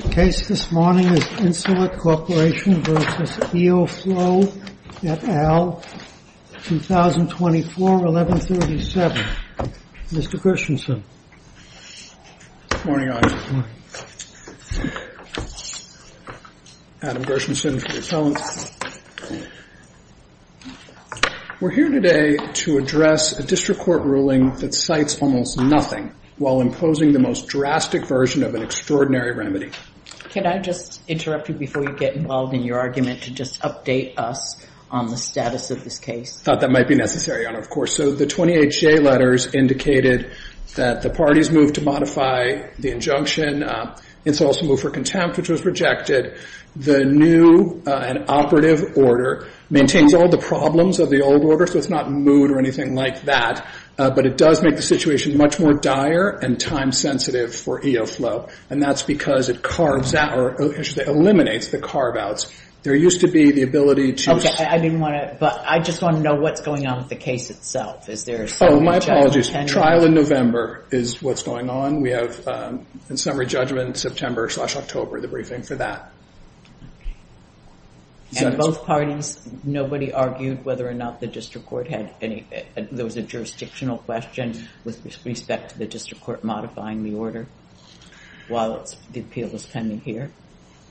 The case this morning is Insulet Corporation v. Eoflow, Co. Ltd., 2024, 1137. Mr. Gershenson. Good morning, Audience. Adam Gershenson for the Appellant. We're here today to address a district court ruling that cites almost nothing while imposing the most drastic version of an extraordinary remedy. Can I just interrupt you before you get involved in your argument to just update us on the status of this case? I thought that might be necessary, Your Honor, of course. So the 20HA letters indicated that the parties moved to modify the injunction. It's also moved for contempt, which was rejected. The new and operative order maintains all the problems of the old order, so it's not moved or anything like that. But it does make the situation much more dire and time-sensitive for Eoflow, and that's because it carves out or eliminates the carve-outs. There used to be the ability to – I didn't want to – but I just want to know what's going on with the case itself. Oh, my apologies. Trial in November is what's going on. We have, in summary judgment, September slash October, the briefing for that. And both parties, nobody argued whether or not the district court had any – there was a jurisdictional question with respect to the district court modifying the order while the appeal was pending here?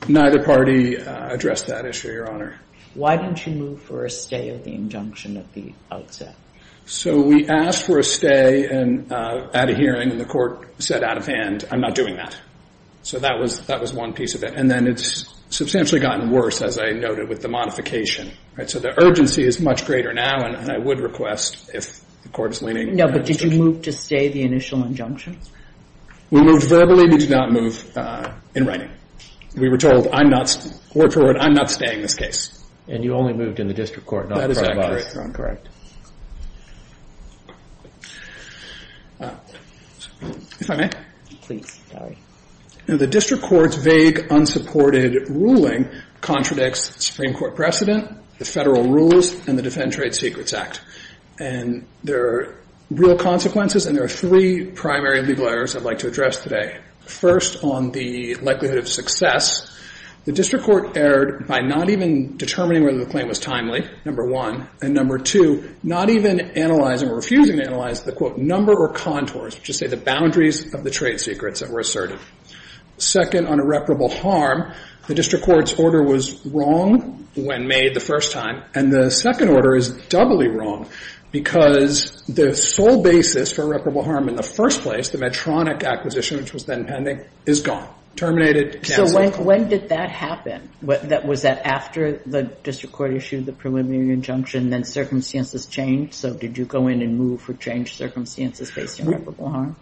Neither party addressed that issue, Your Honor. Why didn't you move for a stay of the injunction at the outset? So we asked for a stay at a hearing, and the court said out of hand, I'm not doing that. So that was one piece of it. And then it's substantially gotten worse, as I noted, with the modification. So the urgency is much greater now, and I would request, if the court is leaning – No, but did you move to stay the initial injunction? We moved verbally. We did not move in writing. We were told, I'm not – word for word, I'm not staying this case. And you only moved in the district court, not the front office? That is accurate, Your Honor. Correct. If I may? Please, sorry. The district court's vague, unsupported ruling contradicts Supreme Court precedent, the federal rules, and the Defend Trade Secrets Act. And there are real consequences, and there are three primary legal errors I'd like to address today. First, on the likelihood of success, the district court erred by not even determining whether the claim was timely, number one, and number two, not even analyzing or refusing to analyze the, quote, number or contours, which is to say the boundaries of the trade secrets that were asserted. Second, on irreparable harm, the district court's order was wrong when made the first time, and the second order is doubly wrong, because the sole basis for irreparable harm in the first place, the Medtronic acquisition, which was then pending, is gone. Terminated, canceled. So when did that happen? Was that after the district court issued the preliminary injunction, then circumstances changed? So did you go in and move for changed circumstances based on irreparable harm?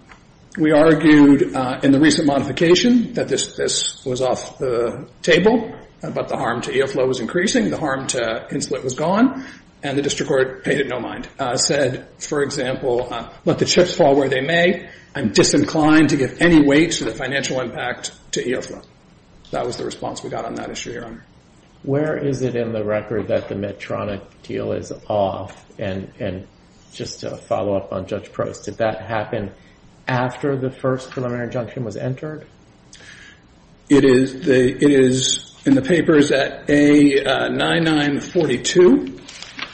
We argued in the recent modification that this was off the table, but the harm to EOFLO was increasing, the harm to Insulet was gone, and the district court paid it no mind. The district court said, for example, let the chips fall where they may. I'm disinclined to give any weight to the financial impact to EOFLO. That was the response we got on that issue, Your Honor. Where is it in the record that the Medtronic deal is off? And just to follow up on Judge Prost, did that happen after the first preliminary injunction was entered? It is in the papers at A9942.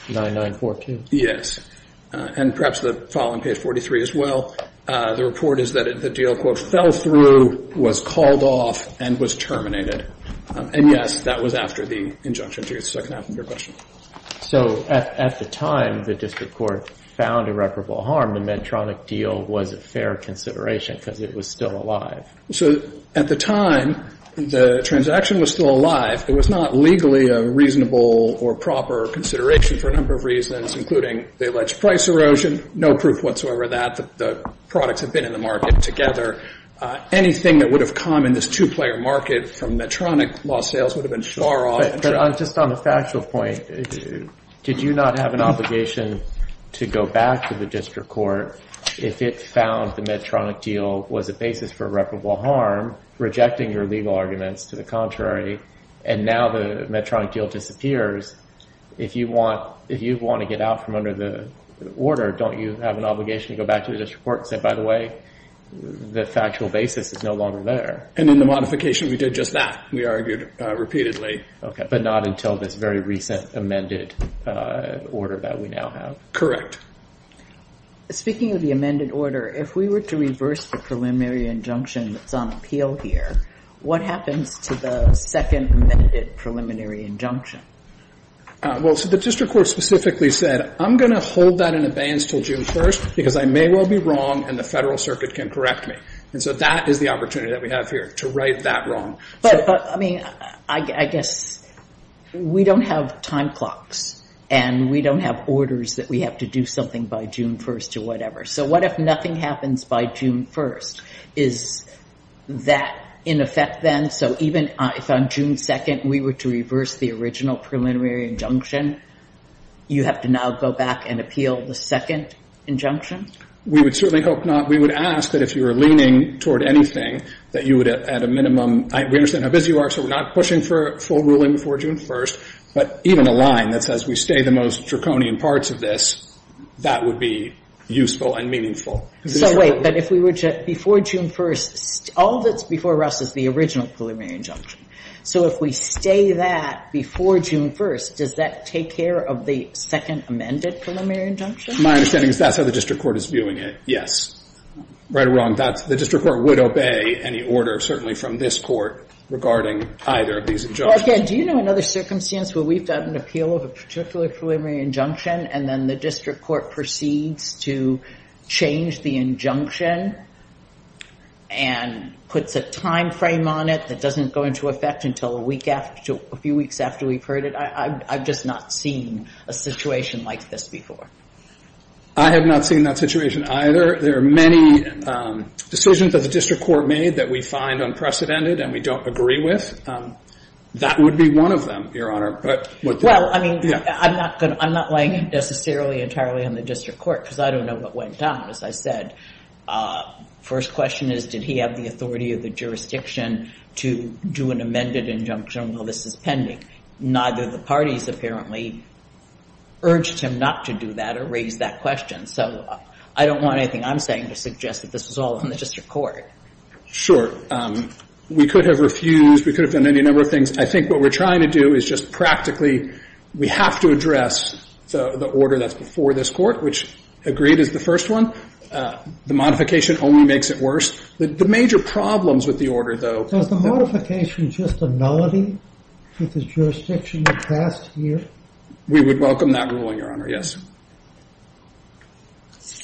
9942. Yes. And perhaps the following page, 43, as well. The report is that the deal, quote, fell through, was called off, and was terminated. And, yes, that was after the injunction. So I can ask you a question. So at the time the district court found irreparable harm, the Medtronic deal was a fair consideration because it was still alive. So at the time, the transaction was still alive. It was not legally a reasonable or proper consideration for a number of reasons, including the alleged price erosion, no proof whatsoever that the products had been in the market together. Anything that would have come in this two-player market from Medtronic lost sales would have been far off. But just on a factual point, did you not have an obligation to go back to the district court if it found the Medtronic deal was a basis for irreparable harm, rejecting your legal arguments to the contrary, and now the Medtronic deal disappears? If you want to get out from under the order, don't you have an obligation to go back to the district court and say, by the way, the factual basis is no longer there? And in the modification, we did just that. We argued repeatedly. Okay, but not until this very recent amended order that we now have. Correct. Speaking of the amended order, if we were to reverse the preliminary injunction that's on appeal here, what happens to the second amended preliminary injunction? Well, so the district court specifically said, I'm going to hold that in abeyance until June 1st because I may well be wrong and the Federal Circuit can correct me. And so that is the opportunity that we have here, to right that wrong. But, I mean, I guess we don't have time clocks, and we don't have orders that we have to do something by June 1st or whatever. So what if nothing happens by June 1st? Is that in effect then? So even if on June 2nd we were to reverse the original preliminary injunction, you have to now go back and appeal the second injunction? We would certainly hope not. We would ask that if you were leaning toward anything, that you would at a minimum, we understand how busy you are, so we're not pushing for a full ruling before June 1st, but even a line that says we stay the most draconian parts of this, that would be useful. And meaningful. So wait, but if we were to, before June 1st, all that's before us is the original preliminary injunction. So if we stay that before June 1st, does that take care of the second amended preliminary injunction? My understanding is that's how the district court is viewing it, yes. Right or wrong, the district court would obey any order, certainly from this Court, regarding either of these injunctions. Well, again, do you know another circumstance where we've got an appeal of a particular preliminary injunction and then the district court proceeds to change the injunction and puts a time frame on it that doesn't go into effect until a few weeks after we've heard it? I've just not seen a situation like this before. I have not seen that situation either. There are many decisions that the district court made that we find unprecedented and we don't agree with. That would be one of them, Your Honor. Well, I mean, I'm not laying it necessarily entirely on the district court because I don't know what went down, as I said. First question is, did he have the authority of the jurisdiction to do an amended injunction while this is pending? Neither of the parties apparently urged him not to do that or raised that question. So I don't want anything I'm saying to suggest that this was all on the district court. Sure. We could have refused. We could have done any number of things. I think what we're trying to do is just practically we have to address the order that's before this court, which agreed is the first one. The modification only makes it worse. The major problems with the order, though. Is the modification just a nullity with the jurisdiction that passed here? We would welcome that ruling, Your Honor, yes.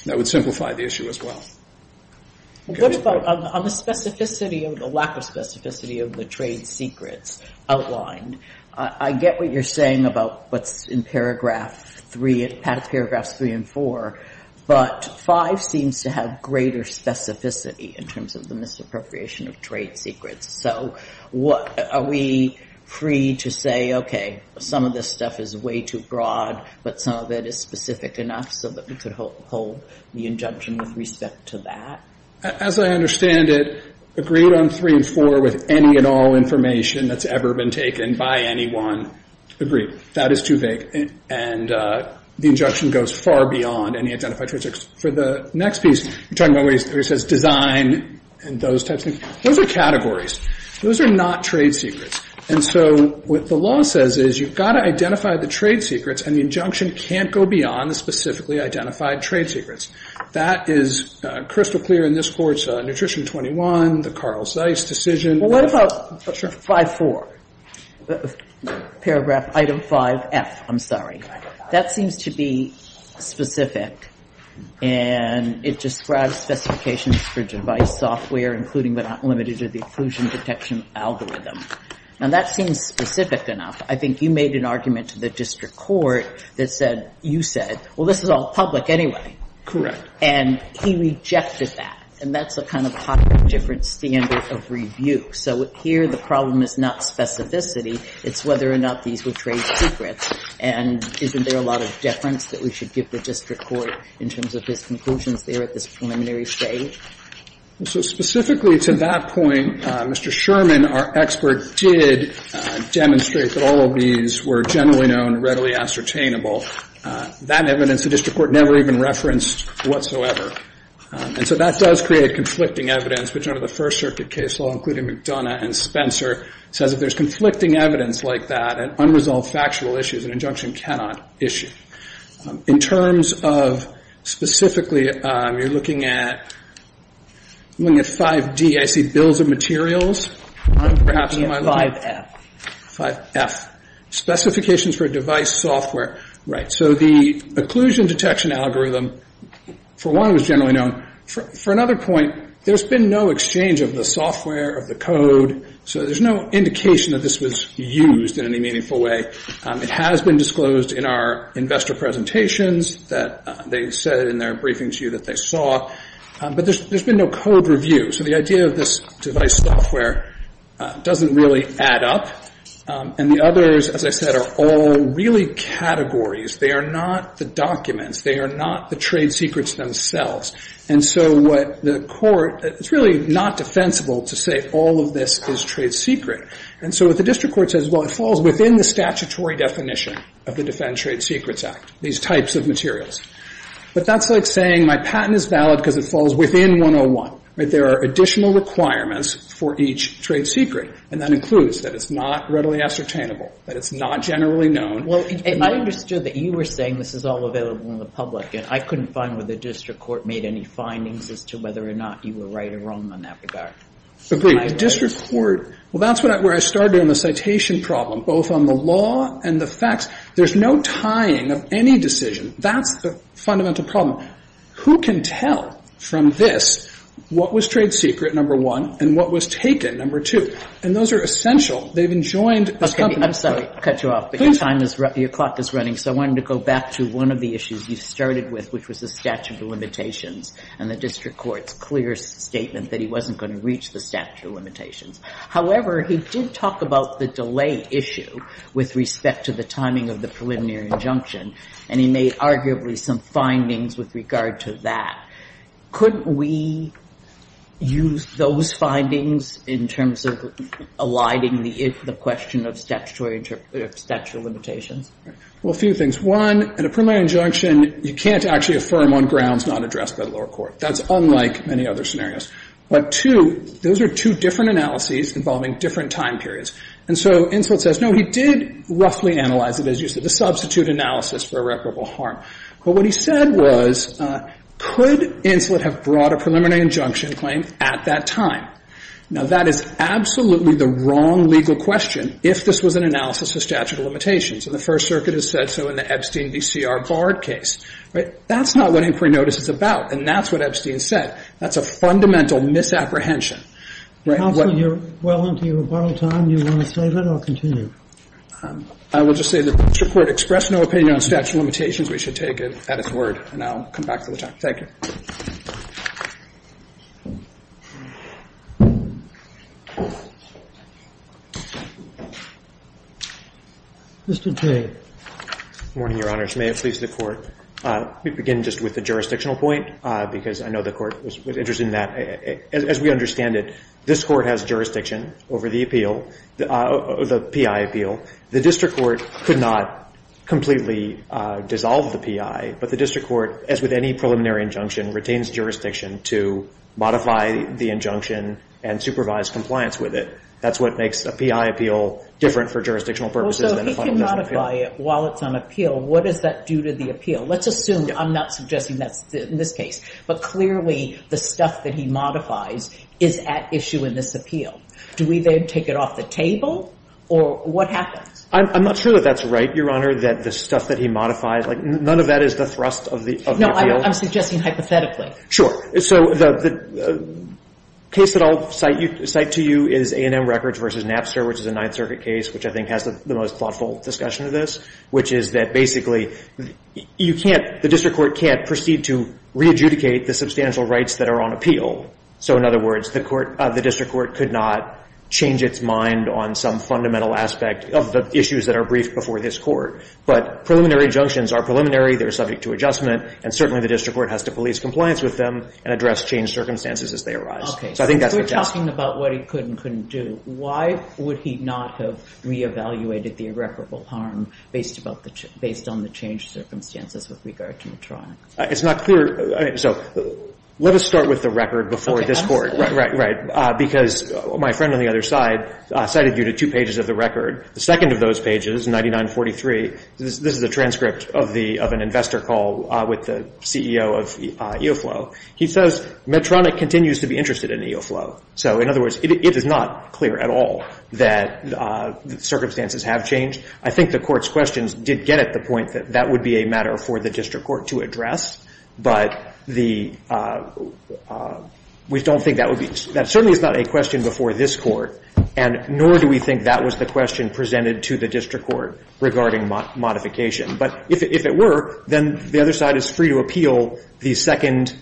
That would simplify the issue as well. What about on the specificity of the lack of specificity of the trade secrets outlined? I get what you're saying about what's in paragraph 3, paragraph 3 and 4, but 5 seems to have greater specificity in terms of the misappropriation of trade secrets. So are we free to say, okay, some of this stuff is way too broad, but some of it is specific enough so that we could hold the injunction with respect to that? As I understand it, agreed on 3 and 4 with any and all information that's ever been taken by anyone. Agreed. That is too vague, and the injunction goes far beyond any identified trade secrets. For the next piece, you're talking about where it says design and those types of things. Those are categories. Those are not trade secrets. And so what the law says is you've got to identify the trade secrets, and the injunction can't go beyond the specifically identified trade secrets. That is crystal clear in this Court's Nutrition 21, the Carl Zeiss decision. Well, what about 5.4, paragraph item 5F? I'm sorry. That seems to be specific, and it describes specifications for device software, including but not limited to the occlusion detection algorithm. Now, that seems specific enough. I think you made an argument to the district court that said you said, well, this is all public anyway. Correct. And he rejected that. And that's a kind of hotly different standard of review. So here the problem is not specificity. It's whether or not these were trade secrets. And isn't there a lot of deference that we should give the district court in terms of his conclusions there at this preliminary stage? So specifically to that point, Mr. Sherman, our expert, did demonstrate that all of these were generally known, readily ascertainable. That evidence the district court never even referenced whatsoever. And so that does create conflicting evidence, which under the First Circuit case law, including McDonough and Spencer, says if there's conflicting evidence like that, an unresolved factual issue is an injunction cannot issue. In terms of specifically, you're looking at 5D. I see bills of materials. 5F. Specifications for device software. Right. So the occlusion detection algorithm, for one, was generally known. For another point, there's been no exchange of the software, of the code. So there's no indication that this was used in any meaningful way. It has been disclosed in our investor presentations that they said in their briefing to you that they saw. But there's been no code review. So the idea of this device software doesn't really add up. And the others, as I said, are all really categories. They are not the documents. They are not the trade secrets themselves. And so what the court, it's really not defensible to say all of this is trade secret. And so what the district court says, well, it falls within the statutory definition of the Defend Trade Secrets Act, these types of materials. But that's like saying my patent is valid because it falls within 101. There are additional requirements for each trade secret. And that includes that it's not readily ascertainable, that it's not generally known. Well, I understood that you were saying this is all available in the public. And I couldn't find whether the district court made any findings as to whether or not you were right or wrong in that regard. Agreed. The district court, well, that's where I started on the citation problem, both on the law and the facts. There's no tying of any decision. That's the fundamental problem. Who can tell from this what was trade secret, number one, and what was taken, number two? And those are essential. They've enjoined this company. Okay. I'm sorry to cut you off. Please. But your time is up. Your clock is running. So I wanted to go back to one of the issues you started with, which was the statute of limitations and the district court's clear statement that he wasn't going to reach the statute of limitations. However, he did talk about the delay issue with respect to the timing of the preliminary injunction. And he made arguably some findings with regard to that. Couldn't we use those findings in terms of aligning the question of statutory limitations? Well, a few things. One, in a preliminary injunction, you can't actually affirm on grounds not addressed by the lower court. That's unlike many other scenarios. But two, those are two different analyses involving different time periods. And so Inslet says, no, he did roughly analyze it, as you said, the substitute analysis for irreparable harm. But what he said was, could Inslet have brought a preliminary injunction claim at that time? Now, that is absolutely the wrong legal question if this was an analysis of statutory limitations. And the First Circuit has said so in the Epstein v. C.R. Bard case. That's not what inquiry notice is about. And that's what Epstein said. That's a fundamental misapprehension. Counsel, you're well into your rebuttal time. Do you want to save it or continue? I will just say the district court expressed no opinion on statutory limitations. And I'll come back to the topic. Thank you. Mr. Jay. Good morning, Your Honors. May it please the Court. We begin just with the jurisdictional point, because I know the Court was interested in that. As we understand it, this Court has jurisdiction over the appeal, the P.I. appeal. The district court could not completely dissolve the P.I., but the district court, as with any preliminary injunction, could dissolve the P.I. jurisdiction to modify the injunction and supervise compliance with it. That's what makes a P.I. appeal different for jurisdictional purposes. So if he can modify it while it's on appeal, what does that do to the appeal? Let's assume, I'm not suggesting that's in this case, but clearly the stuff that he modifies is at issue in this appeal. Do we then take it off the table, or what happens? I'm not sure that that's right, Your Honor, that the stuff that he modifies, like none of that is the thrust of the appeal. No, I'm suggesting hypothetically. Sure. So the case that I'll cite to you is A&M Records v. Napster, which is a Ninth Circuit case, which I think has the most thoughtful discussion of this, which is that basically you can't, the district court can't proceed to re-adjudicate the substantial rights that are on appeal. So, in other words, the district court could not change its mind on some fundamental aspect of the issues that are briefed before this Court. But preliminary injunctions are preliminary. They're subject to adjustment, and certainly the district court has to police compliance with them and address changed circumstances as they arise. Okay. So I think that's the job. If we're talking about what he could and couldn't do, why would he not have re-evaluated the irreparable harm based about the, based on the changed circumstances with regard to Medtronic? It's not clear. So let us start with the record before this Court. Okay, absolutely. Right, right, right. Because my friend on the other side cited you to two pages of the record. The second of those pages, 9943, this is a transcript of the, of an investor call with the CEO of EOFLOW. He says Medtronic continues to be interested in EOFLOW. So, in other words, it is not clear at all that circumstances have changed. I think the Court's questions did get at the point that that would be a matter for the district court to address. But the, we don't think that would be, that certainly is not a question before this Court. And nor do we think that was the question presented to the district court regarding modification. But if it were, then the other side is free to appeal the second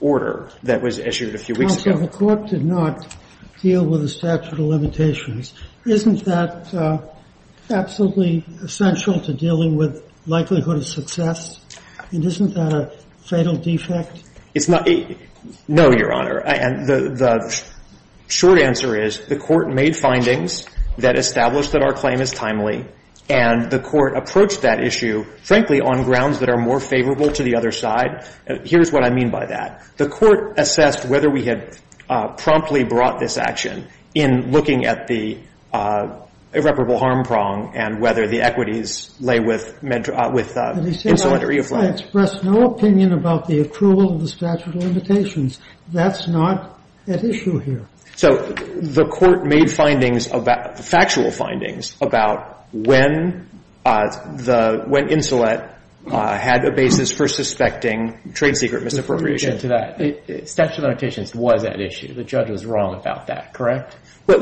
order that was issued a few weeks ago. Counsel, the Court did not deal with the statute of limitations. Isn't that absolutely essential to dealing with likelihood of success? And isn't that a fatal defect? It's not. No, Your Honor. And the short answer is the Court made findings that establish that our claim is timely and the Court approached that issue, frankly, on grounds that are more favorable to the other side. Here's what I mean by that. The Court assessed whether we had promptly brought this action in looking at the irreparable harm prong and whether the equities lay with Medtronic, with Insolent or EOFLOW. I express no opinion about the approval of the statute of limitations. That's not at issue here. So the Court made findings about, factual findings about when the, when Insolent had a basis for suspecting trade secret misappropriation. Statute of limitations was at issue. The judge was wrong about that, correct? I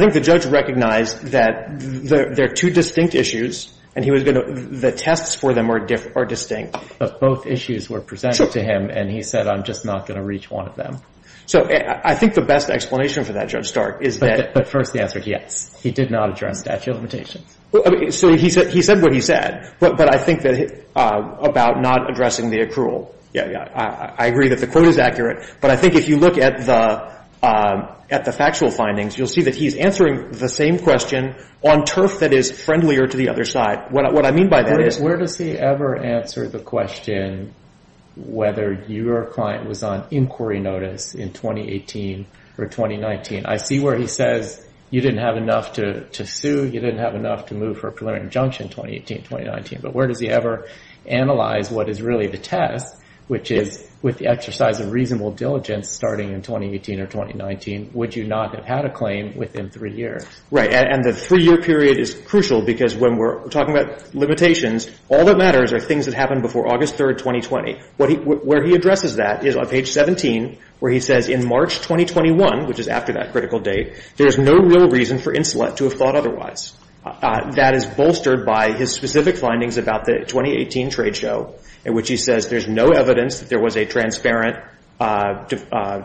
think the judge recognized that there are two distinct issues and he was going to reach one of them. So the tests for them are distinct. But both issues were presented to him and he said I'm just not going to reach one of them. So I think the best explanation for that, Judge Stark, is that. But first he answered yes. He did not address statute of limitations. So he said what he said. But I think that about not addressing the accrual. Yeah, yeah. I agree that the quote is accurate. But I think if you look at the factual findings, you'll see that he's answering the same question on turf that is friendlier to the other side. What I mean by that is. Where does he ever answer the question whether your client was on inquiry notice in 2018 or 2019? I see where he says you didn't have enough to sue, you didn't have enough to move for a preliminary injunction 2018, 2019. But where does he ever analyze what is really the test, which is with the exercise of reasonable diligence starting in 2018 or 2019, would you not have had a claim within three years? Right. And the three-year period is crucial because when we're talking about limitations, all that matters are things that happened before August 3, 2020. Where he addresses that is on page 17 where he says in March 2021, which is after that critical date, there is no real reason for Insulet to have thought otherwise. That is bolstered by his specific findings about the 2018 trade show in which he says there's no evidence that there was a transparent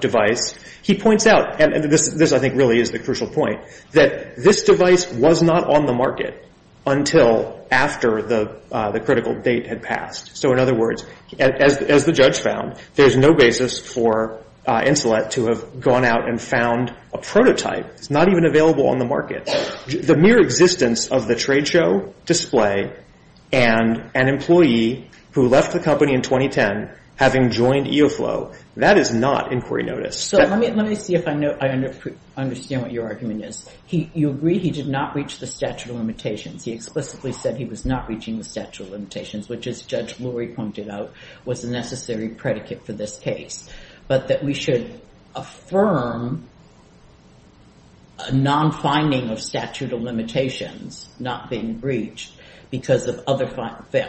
device. He points out, and this I think really is the crucial point, that this device was not on the market until after the critical date had passed. So in other words, as the judge found, there's no basis for Insulet to have gone out and found a prototype. It's not even available on the market. The mere existence of the trade show display and an employee who left the company in 2010 having joined EOFLOW, that is not inquiry notice. So let me see if I understand what your argument is. You agree he did not reach the statute of limitations. He explicitly said he was not reaching the statute of limitations, which, as Judge Lurie pointed out, was the necessary predicate for this case, but that we should affirm a non-finding of statute of limitations not being breached because of other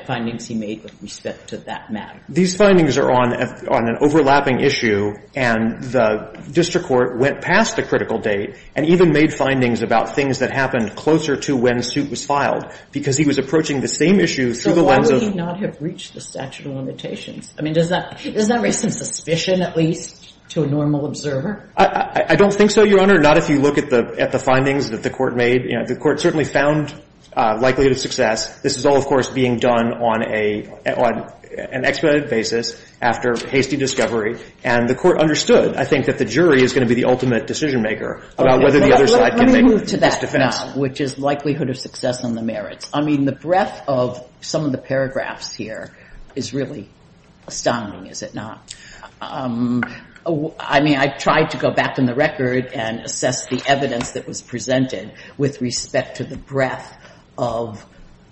findings he made with respect to that matter. These findings are on an overlapping issue, and the district court went past the critical date and even made findings about things that happened closer to when suit was filed because he was approaching the same issue through the lens of the statute of limitations. I mean, does that raise some suspicion, at least, to a normal observer? I don't think so, Your Honor, not if you look at the findings that the Court made. The Court certainly found likelihood of success. This is all, of course, being done on an expedited basis after hasty discovery, and the Court understood, I think, that the jury is going to be the ultimate decision-maker about whether the other side can make its defense. Let me move to that now, which is likelihood of success and the merits. I mean, the breadth of some of the paragraphs here is really astounding, is it not? I mean, I tried to go back in the record and assess the evidence that was presented with respect to the breadth of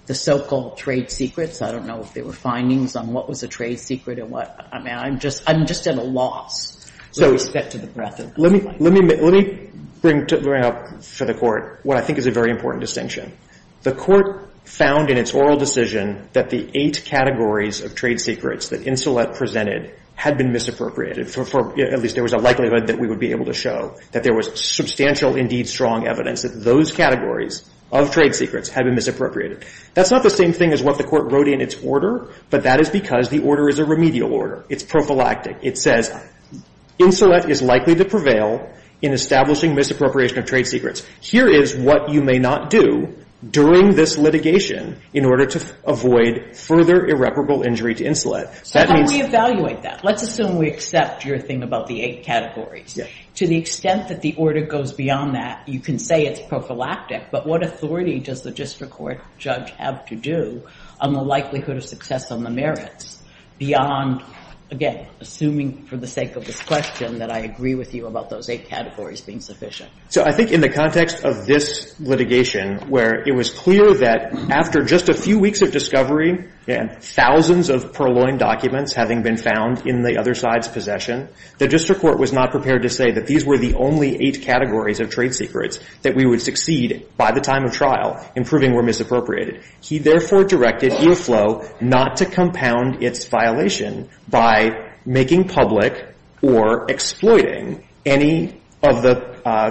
the so-called trade secrets. I don't know if there were findings on what was a trade secret and what. I mean, I'm just at a loss with respect to the breadth of those findings. Let me bring up for the Court what I think is a very important distinction. The Court found in its oral decision that the eight categories of trade secrets that Insolette presented had been misappropriated, at least there was a likelihood that we would be able to show, that there was substantial, indeed, strong evidence that those categories of trade secrets had been misappropriated. That's not the same thing as what the Court wrote in its order, but that is because the order is a remedial order. It's prophylactic. It says Insolette is likely to prevail in establishing misappropriation of trade secrets. Here is what you may not do during this litigation in order to avoid further irreparable injury to Insolette. That means… So how do we evaluate that? Let's assume we accept your thing about the eight categories. To the extent that the order goes beyond that, you can say it's prophylactic, but what authority does the district court judge have to do on the likelihood of success on the merits beyond, again, assuming for the sake of this question that I agree with you about those eight categories being sufficient? So I think in the context of this litigation where it was clear that after just a few weeks of discovery and thousands of purloined documents having been found in the other side's possession, the district court was not prepared to say that these were the only eight categories of trade secrets that we would succeed by the time of trial in proving we're misappropriated. He, therefore, directed EOFLOW not to compound its violation by making public or exploiting any of the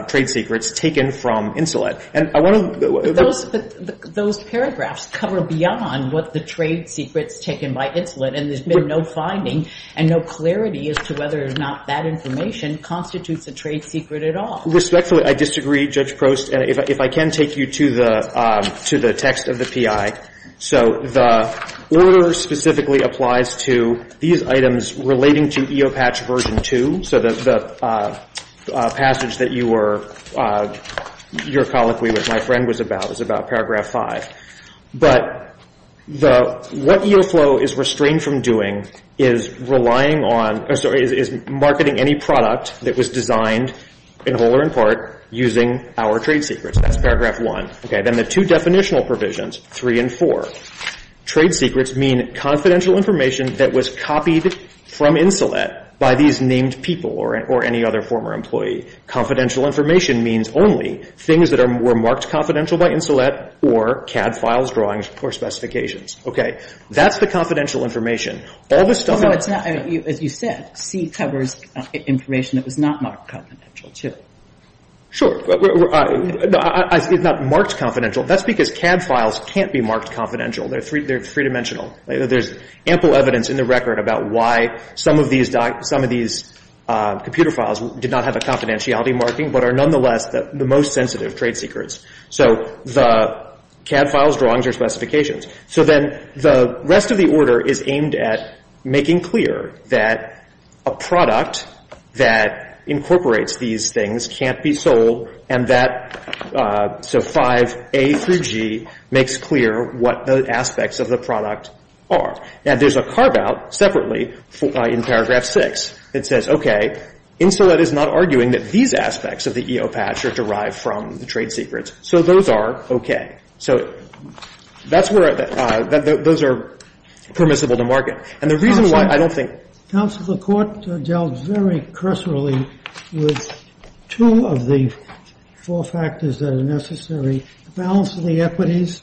trade secrets taken from Insolette. And I want to… Those paragraphs cover beyond what the trade secrets taken by Insolette, and there's been no finding and no clarity as to whether or not that information constitutes a trade secret at all. Respectfully, I disagree, Judge Prost. And if I can take you to the text of the P.I. So the order specifically applies to these items relating to EOPATCH Version 2. So the passage that you were – your colloquy with my friend was about, but the – what EOFLOW is restrained from doing is relying on – or sorry, is marketing any product that was designed in whole or in part using our trade secrets. That's paragraph 1. Okay. Then the two definitional provisions, 3 and 4, trade secrets mean confidential information that was copied from Insolette by these named people or any other former employee. Confidential information means only things that were marked confidential by Insolette or CAD files, drawings, or specifications. Okay. That's the confidential information. All the stuff… No, it's not. As you said, C covers information that was not marked confidential, too. Sure. It's not marked confidential. That's because CAD files can't be marked confidential. They're three-dimensional. There's ample evidence in the record about why some of these computer files did not have a confidentiality marking but are nonetheless the most sensitive trade secrets. So the CAD files, drawings, or specifications. So then the rest of the order is aimed at making clear that a product that incorporates these things can't be sold and that – so 5A through G makes clear what the aspects of the product are. Now, there's a carve-out separately in paragraph 6 that says, okay, Insolette is not arguing that these aspects of the EO patch are derived from the trade secrets. So those are okay. So that's where – those are permissible to market. And the reason why I don't think… Counsel, the Court dealt very cursorily with two of the four factors that are necessary, the balance of the equities,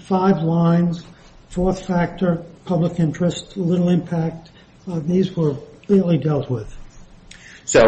five lines, fourth factor, public interest, little impact. These were clearly dealt with. So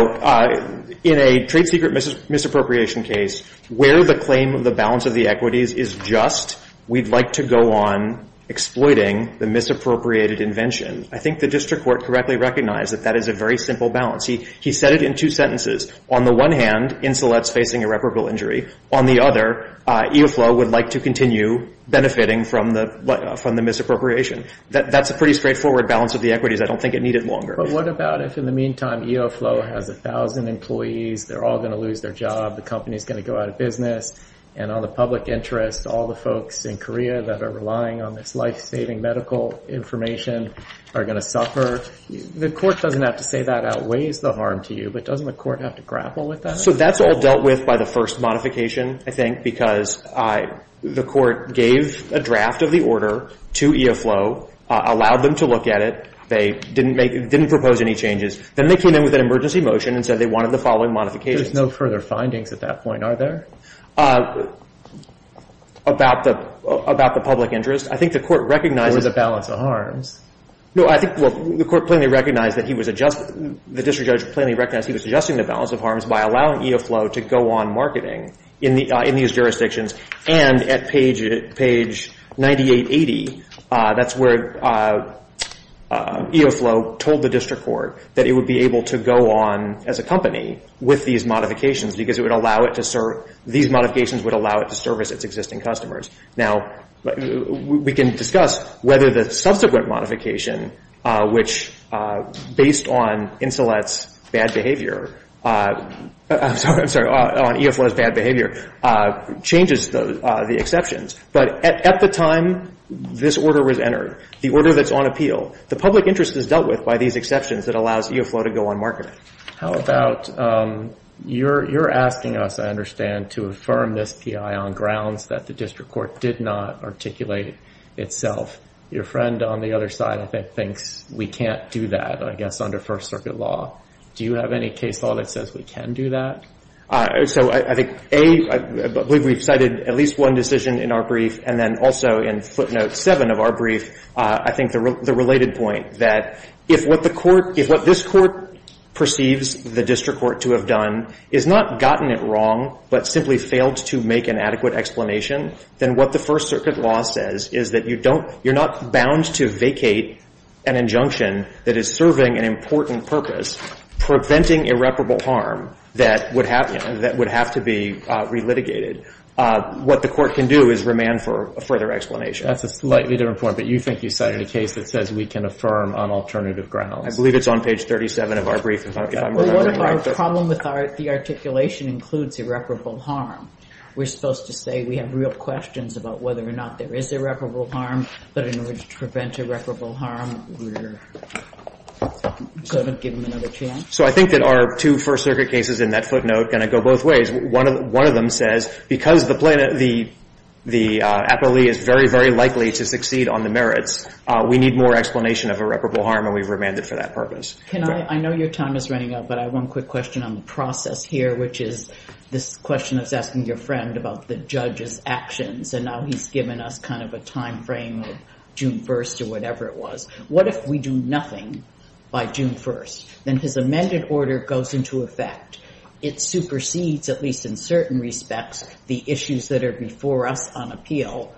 in a trade secret misappropriation case where the claim of the balance of the equities is just we'd like to go on exploiting the misappropriated invention, I think the district court correctly recognized that that is a very simple balance. He said it in two sentences. On the one hand, Insolette's facing irreparable injury. On the other, EOFLOW would like to continue benefiting from the misappropriation. That's a pretty straightforward balance of the equities. I don't think it needed longer. But what about if, in the meantime, EOFLOW has 1,000 employees. They're all going to lose their job. The company is going to go out of business. And on the public interest, all the folks in Korea that are relying on this life-saving medical information are going to suffer. The Court doesn't have to say that outweighs the harm to you, but doesn't the Court have to grapple with that? So that's all dealt with by the first modification, I think, because the Court gave a draft of the order to EOFLOW, allowed them to look at it. They didn't propose any changes. Then they came in with an emergency motion and said they wanted the following modifications. There's no further findings at that point, are there? About the public interest. I think the Court recognizes... Or the balance of harms. No, I think the Court plainly recognized that he was adjusting, the district judge plainly recognized he was adjusting the balance of harms by allowing EOFLOW to go on marketing in these jurisdictions. And at page 9880, that's where EOFLOW told the district court that it would be able to go on as a company with these modifications because these modifications would allow it to service its existing customers. Now, we can discuss whether the subsequent modification, which, based on Insolette's bad behavior, I'm sorry, on EOFLOW's bad behavior, changes the exceptions. But at the time this order was entered, the order that's on appeal, the public interest is dealt with by these exceptions that allows EOFLOW to go on marketing. How about you're asking us, I understand, to affirm this P.I. on grounds that the district court did not articulate itself. Your friend on the other side, I think, thinks we can't do that, I guess, under First Circuit law. Do you have any case law that says we can do that? So I think, A, I believe we've cited at least one decision in our brief, and then also in footnote 7 of our brief, I think the related point, that if what the court, if what this court perceives the district court to have done is not gotten it wrong but simply failed to make an adequate explanation, then what the First Circuit law says is that you don't, you're not bound to vacate an injunction that is serving an important purpose, preventing irreparable harm that would have to be relitigated. What the court can do is remand for a further explanation. That's a slightly different point. But you think you cited a case that says we can affirm on alternative grounds. I believe it's on page 37 of our brief. Well, what if our problem with the articulation includes irreparable harm? We're supposed to say we have real questions about whether or not there is irreparable harm, but in order to prevent irreparable harm, we're going to give them another chance? So I think that our two First Circuit cases in that footnote are going to go both ways. One of them says because the appellee is very, very likely to succeed on the merits, we need more explanation of irreparable harm, and we've remanded for that purpose. I know your time is running out, but I have one quick question on the process here, which is this question I was asking your friend about the judge's actions, and now he's given us kind of a time frame of June 1st or whatever it was. What if we do nothing by June 1st? Then his amended order goes into effect. It supersedes, at least in certain respects, the issues that are before us on appeal.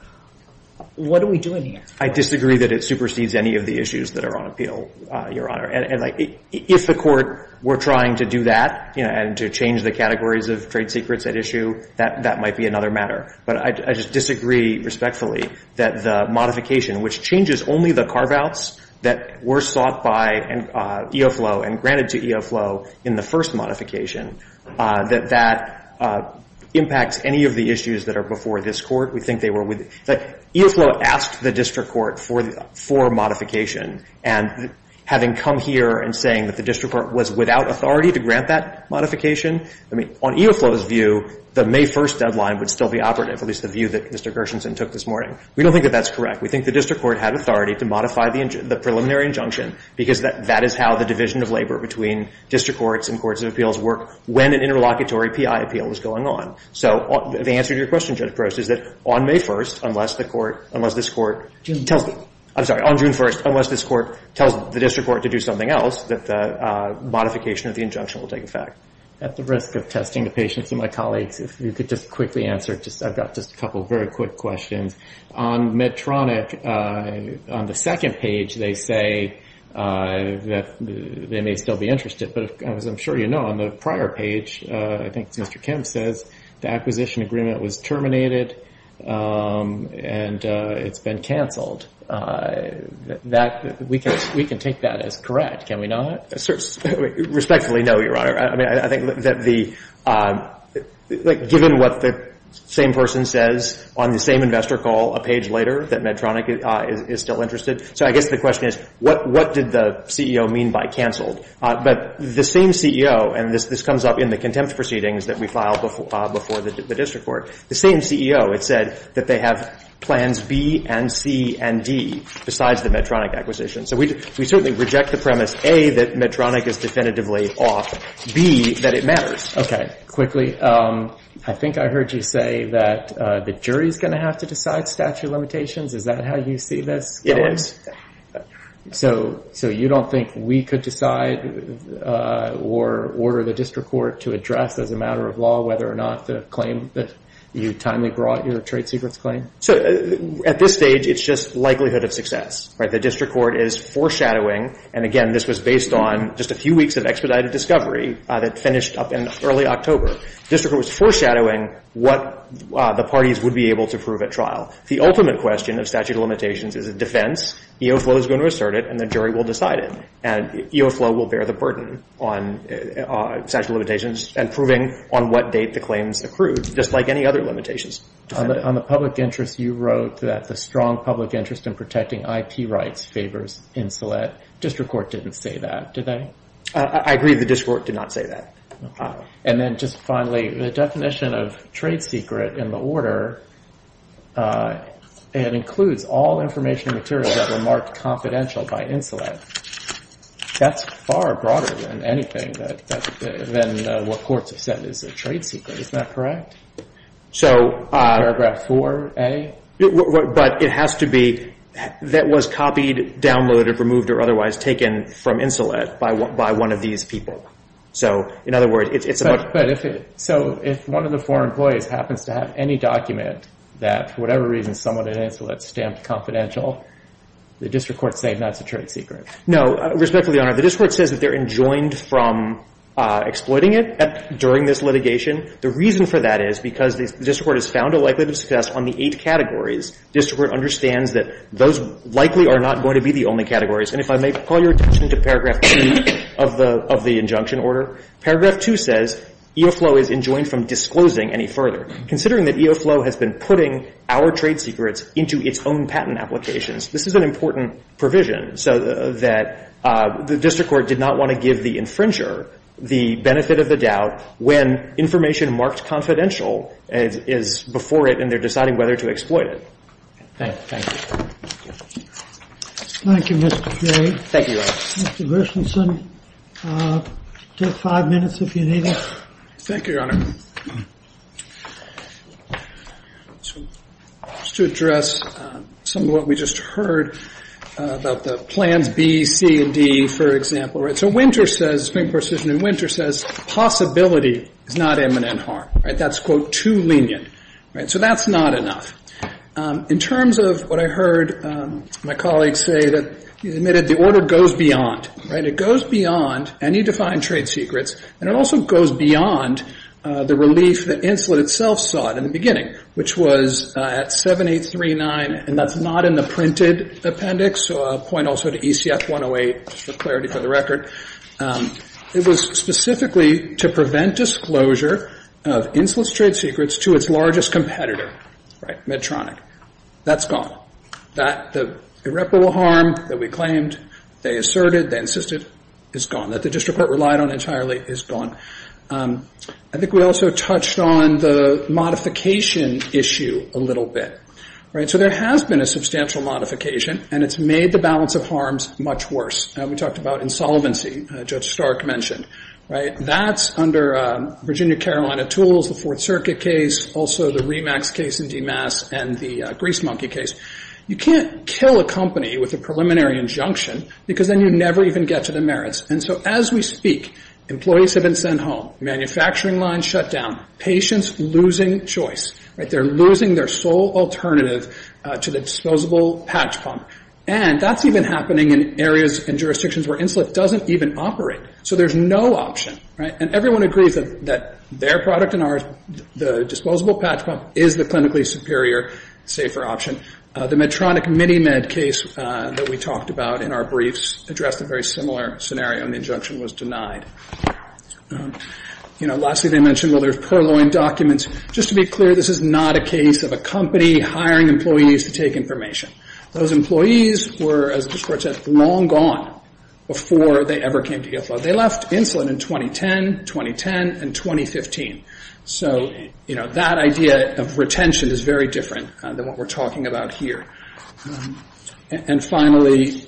What are we doing here? I disagree that it supersedes any of the issues that are on appeal, Your Honor. And if the Court were trying to do that and to change the categories of trade secrets at issue, that might be another matter. But I just disagree respectfully that the modification, which changes only the carve-outs that were sought by EOFLOW and granted to EOFLOW in the first modification, that that impacts any of the issues that are before this Court. We think they were with the – EOFLOW asked the district court for modification, and having come here and saying that the district court was without authority to grant that modification, I mean, on EOFLOW's view, the May 1st deadline would still be operative, at least the view that Mr. Gershenson took this morning. We don't think that that's correct. We think the district court had authority to modify the preliminary injunction because that is how the division of labor between district courts and courts of appeals work when an interlocutory P.I. appeal is going on. So the answer to your question, Judge Gross, is that on May 1st, unless the court – unless this court tells the – I'm sorry. On June 1st, unless this court tells the district court to do something else, that the modification of the injunction will take effect. At the risk of testing the patience of my colleagues, if you could just quickly answer. I've got just a couple of very quick questions. On Medtronic, on the second page, they say that they may still be interested, but as I'm sure you know, on the prior page, I think it's Mr. Kemp says, the acquisition agreement was terminated and it's been canceled. That – we can take that as correct. Can we know that? Respectfully, no, Your Honor. I mean, I think that the – like, given what the same person says on the same investor call a page later, that Medtronic is still interested. So I guess the question is, what did the CEO mean by canceled? But the same CEO, and this comes up in the contempt proceedings that we filed before the district court, the same CEO had said that they have plans B and C and D besides the Medtronic acquisition. So we certainly reject the premise, A, that Medtronic is definitively off, B, that it matters. Okay. Quickly, I think I heard you say that the jury is going to have to decide statute of limitations. Is that how you see this going? It is. So you don't think we could decide or order the district court to address as a matter of law whether or not the claim that you timely brought, your trade secrets claim? So at this stage, it's just likelihood of success. The district court is foreshadowing. And, again, this was based on just a few weeks of expedited discovery that finished up in early October. The district court was foreshadowing what the parties would be able to prove at trial. The ultimate question of statute of limitations is a defense. EOFLOW is going to assert it, and the jury will decide it. And EOFLOW will bear the burden on statute of limitations and proving on what date the claims accrued, just like any other limitations. On the public interest, you wrote that the strong public interest in protecting IP rights favors Insolet. District court didn't say that, did they? I agree the district court did not say that. And then just finally, the definition of trade secret in the order, it includes all information and materials that were marked confidential by Insolet. That's far broader than anything, than what courts have said is a trade secret. Isn't that correct? Paragraph 4A? But it has to be that was copied, downloaded, removed, or otherwise taken from Insolet by one of these people. So, in other words, it's about But if it, so if one of the four employees happens to have any document that, for whatever reason, someone at Insolet stamped confidential, the district court's saying that's a trade secret. No. Respectfully, Your Honor, the district court says that they're enjoined from exploiting it during this litigation. The reason for that is because the district court has found a likelihood of success on the eight categories. District court understands that those likely are not going to be the only categories. And if I may call your attention to paragraph 2 of the injunction order. Paragraph 2 says EOFLOW is enjoined from disclosing any further. Considering that EOFLOW has been putting our trade secrets into its own patent applications, this is an important provision so that the district court did not want to give the infringer the benefit of the doubt when information marked confidential is before it and they're deciding whether to exploit it. Thank you. Thank you, Mr. Perry. Thank you, Your Honor. Mr. Gershenson, take five minutes if you need it. Thank you, Your Honor. Just to address some of what we just heard about the plans B, C, and D, for example. Right. So Winter says, Spring, Precision, and Winter says possibility is not imminent harm. Right. That's, quote, too lenient. Right. So that's not enough. In terms of what I heard my colleague say that he admitted the order goes beyond. Right. It goes beyond any defined trade secrets, and it also goes beyond the relief that Inslet itself sought in the beginning, which was at 7839, and that's not in the printed appendix, so I'll point also to ECF 108 just for clarity for the record. It was specifically to prevent disclosure of Inslet's trade secrets to its largest competitor. Right. Medtronic. That's gone. That irreparable harm that we claimed, they asserted, they insisted, is gone. That the district court relied on entirely is gone. I think we also touched on the modification issue a little bit. Right. So there has been a substantial modification, and it's made the balance of harms much worse. We talked about insolvency, Judge Stark mentioned. Right. And that's under Virginia Carolina Tools, the Fourth Circuit case, also the REMAX case in DEMAS, and the Grease Monkey case. You can't kill a company with a preliminary injunction because then you never even get to the merits. And so as we speak, employees have been sent home. Manufacturing lines shut down. Patients losing choice. Right. They're losing their sole alternative to the disposable patch pump. And that's even happening in areas and jurisdictions where Inslet doesn't even operate. So there's no option. Right. And everyone agrees that their product and ours, the disposable patch pump, is the clinically superior, safer option. The Medtronic MiniMed case that we talked about in our briefs addressed a very similar scenario, and the injunction was denied. You know, lastly they mentioned, well, there's purloined documents. Just to be clear, this is not a case of a company hiring employees to take information. Those employees were, as the Court said, long gone before they ever came to EFLA. They left Inslet in 2010, 2010, and 2015. So, you know, that idea of retention is very different than what we're talking about here. And finally,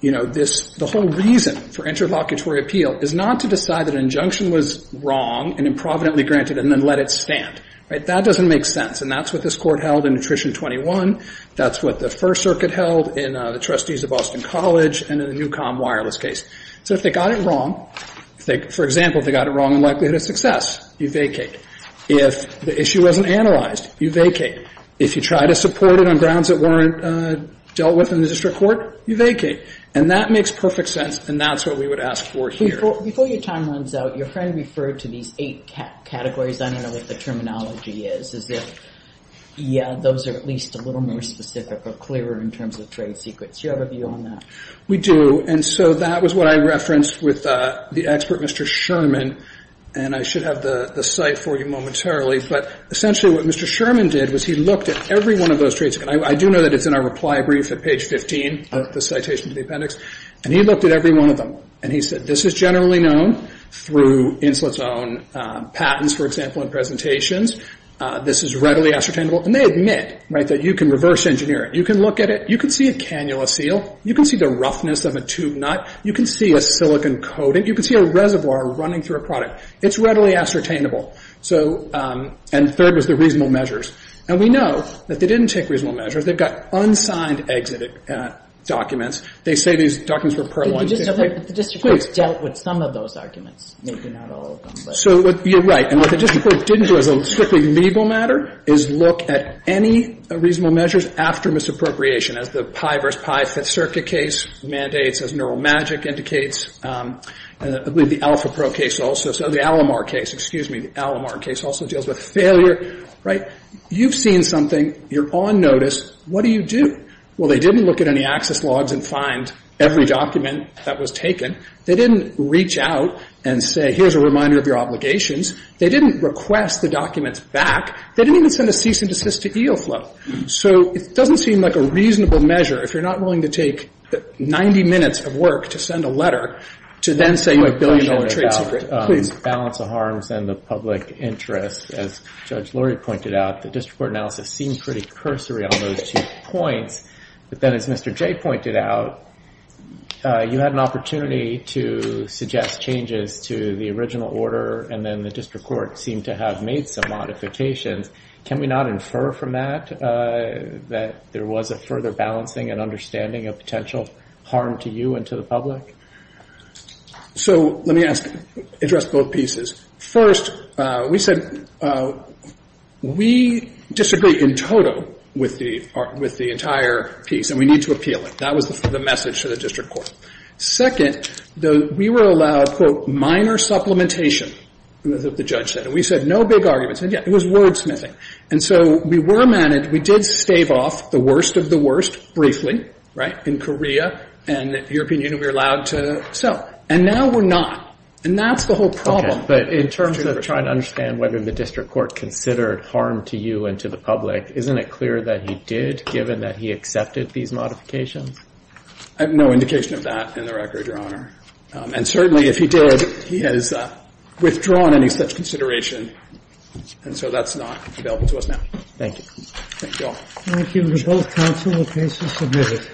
you know, this, the whole reason for interlocutory appeal is not to decide that an injunction was wrong and improvidently granted and then let it stand. Right. That doesn't make sense. And that's what this Court held in Nutrition 21. That's what the First Circuit held in the Trustees of Boston College and in the Newcom Wireless case. So if they got it wrong, for example, if they got it wrong on likelihood of success, you vacate. If the issue wasn't analyzed, you vacate. If you try to support it on grounds that weren't dealt with in the district court, you vacate. And that makes perfect sense, and that's what we would ask for here. Before your time runs out, your friend referred to these eight categories. I don't know what the terminology is. Is it, yeah, those are at least a little more specific or clearer in terms of trade secrets. Do you have a view on that? We do. And so that was what I referenced with the expert, Mr. Sherman. And I should have the site for you momentarily. But essentially what Mr. Sherman did was he looked at every one of those trade secrets. I do know that it's in our reply brief at page 15 of the citation to the appendix. And he looked at every one of them. And he said this is generally known through Insulet's own patents, for example, in presentations. This is readily ascertainable. And they admit that you can reverse engineer it. You can look at it. You can see a cannula seal. You can see the roughness of a tube nut. You can see a silicon coating. You can see a reservoir running through a product. It's readily ascertainable. And third was the reasonable measures. And we know that they didn't take reasonable measures. They've got unsigned exit documents. They say these documents were part one. Please. Kagan. The district court dealt with some of those arguments. Maybe not all of them. So you're right. And what the district court didn't do as a strictly legal matter is look at any reasonable measures after misappropriation, as the pie versus pie Fifth Circuit case mandates, as Neural Magic indicates. I believe the AlphaPro case also. So the Alamar case. Excuse me. The Alamar case also deals with failure. Right? You've seen something. You're on notice. What do you do? Well, they didn't look at any access logs and find every document that was taken. They didn't reach out and say, here's a reminder of your obligations. They didn't request the documents back. They didn't even send a cease and desist to EOFLOW. So it doesn't seem like a reasonable measure, if you're not willing to take 90 minutes of work to send a letter, to then say you're a billion-dollar trade secret. Please. Balance of harms and the public interest. As Judge Lurie pointed out, the district court analysis seems pretty cursory on those two points. But then, as Mr. Jay pointed out, you had an opportunity to suggest changes to the original order, and then the district court seemed to have made some modifications. Can we not infer from that that there was a further balancing and understanding of potential harm to you and to the public? So let me address both pieces. First, we said we disagree in total with the entire piece, and we need to appeal it. That was the message to the district court. Second, we were allowed, quote, minor supplementation, as the judge said. And we said no big arguments. And, yeah, it was wordsmithing. And so we were managed. We did stave off the worst of the worst, briefly, right, in Korea. And the European Union, we were allowed to sell. And now we're not. And that's the whole problem. Okay. But in terms of trying to understand whether the district court considered harm to you and to the public, isn't it clear that he did, given that he accepted these modifications? I have no indication of that in the record, Your Honor. And certainly, if he did, he has withdrawn any such consideration. And so that's not available to us now. Thank you. Thank you all. Thank you. Both counsel, the case is submitted.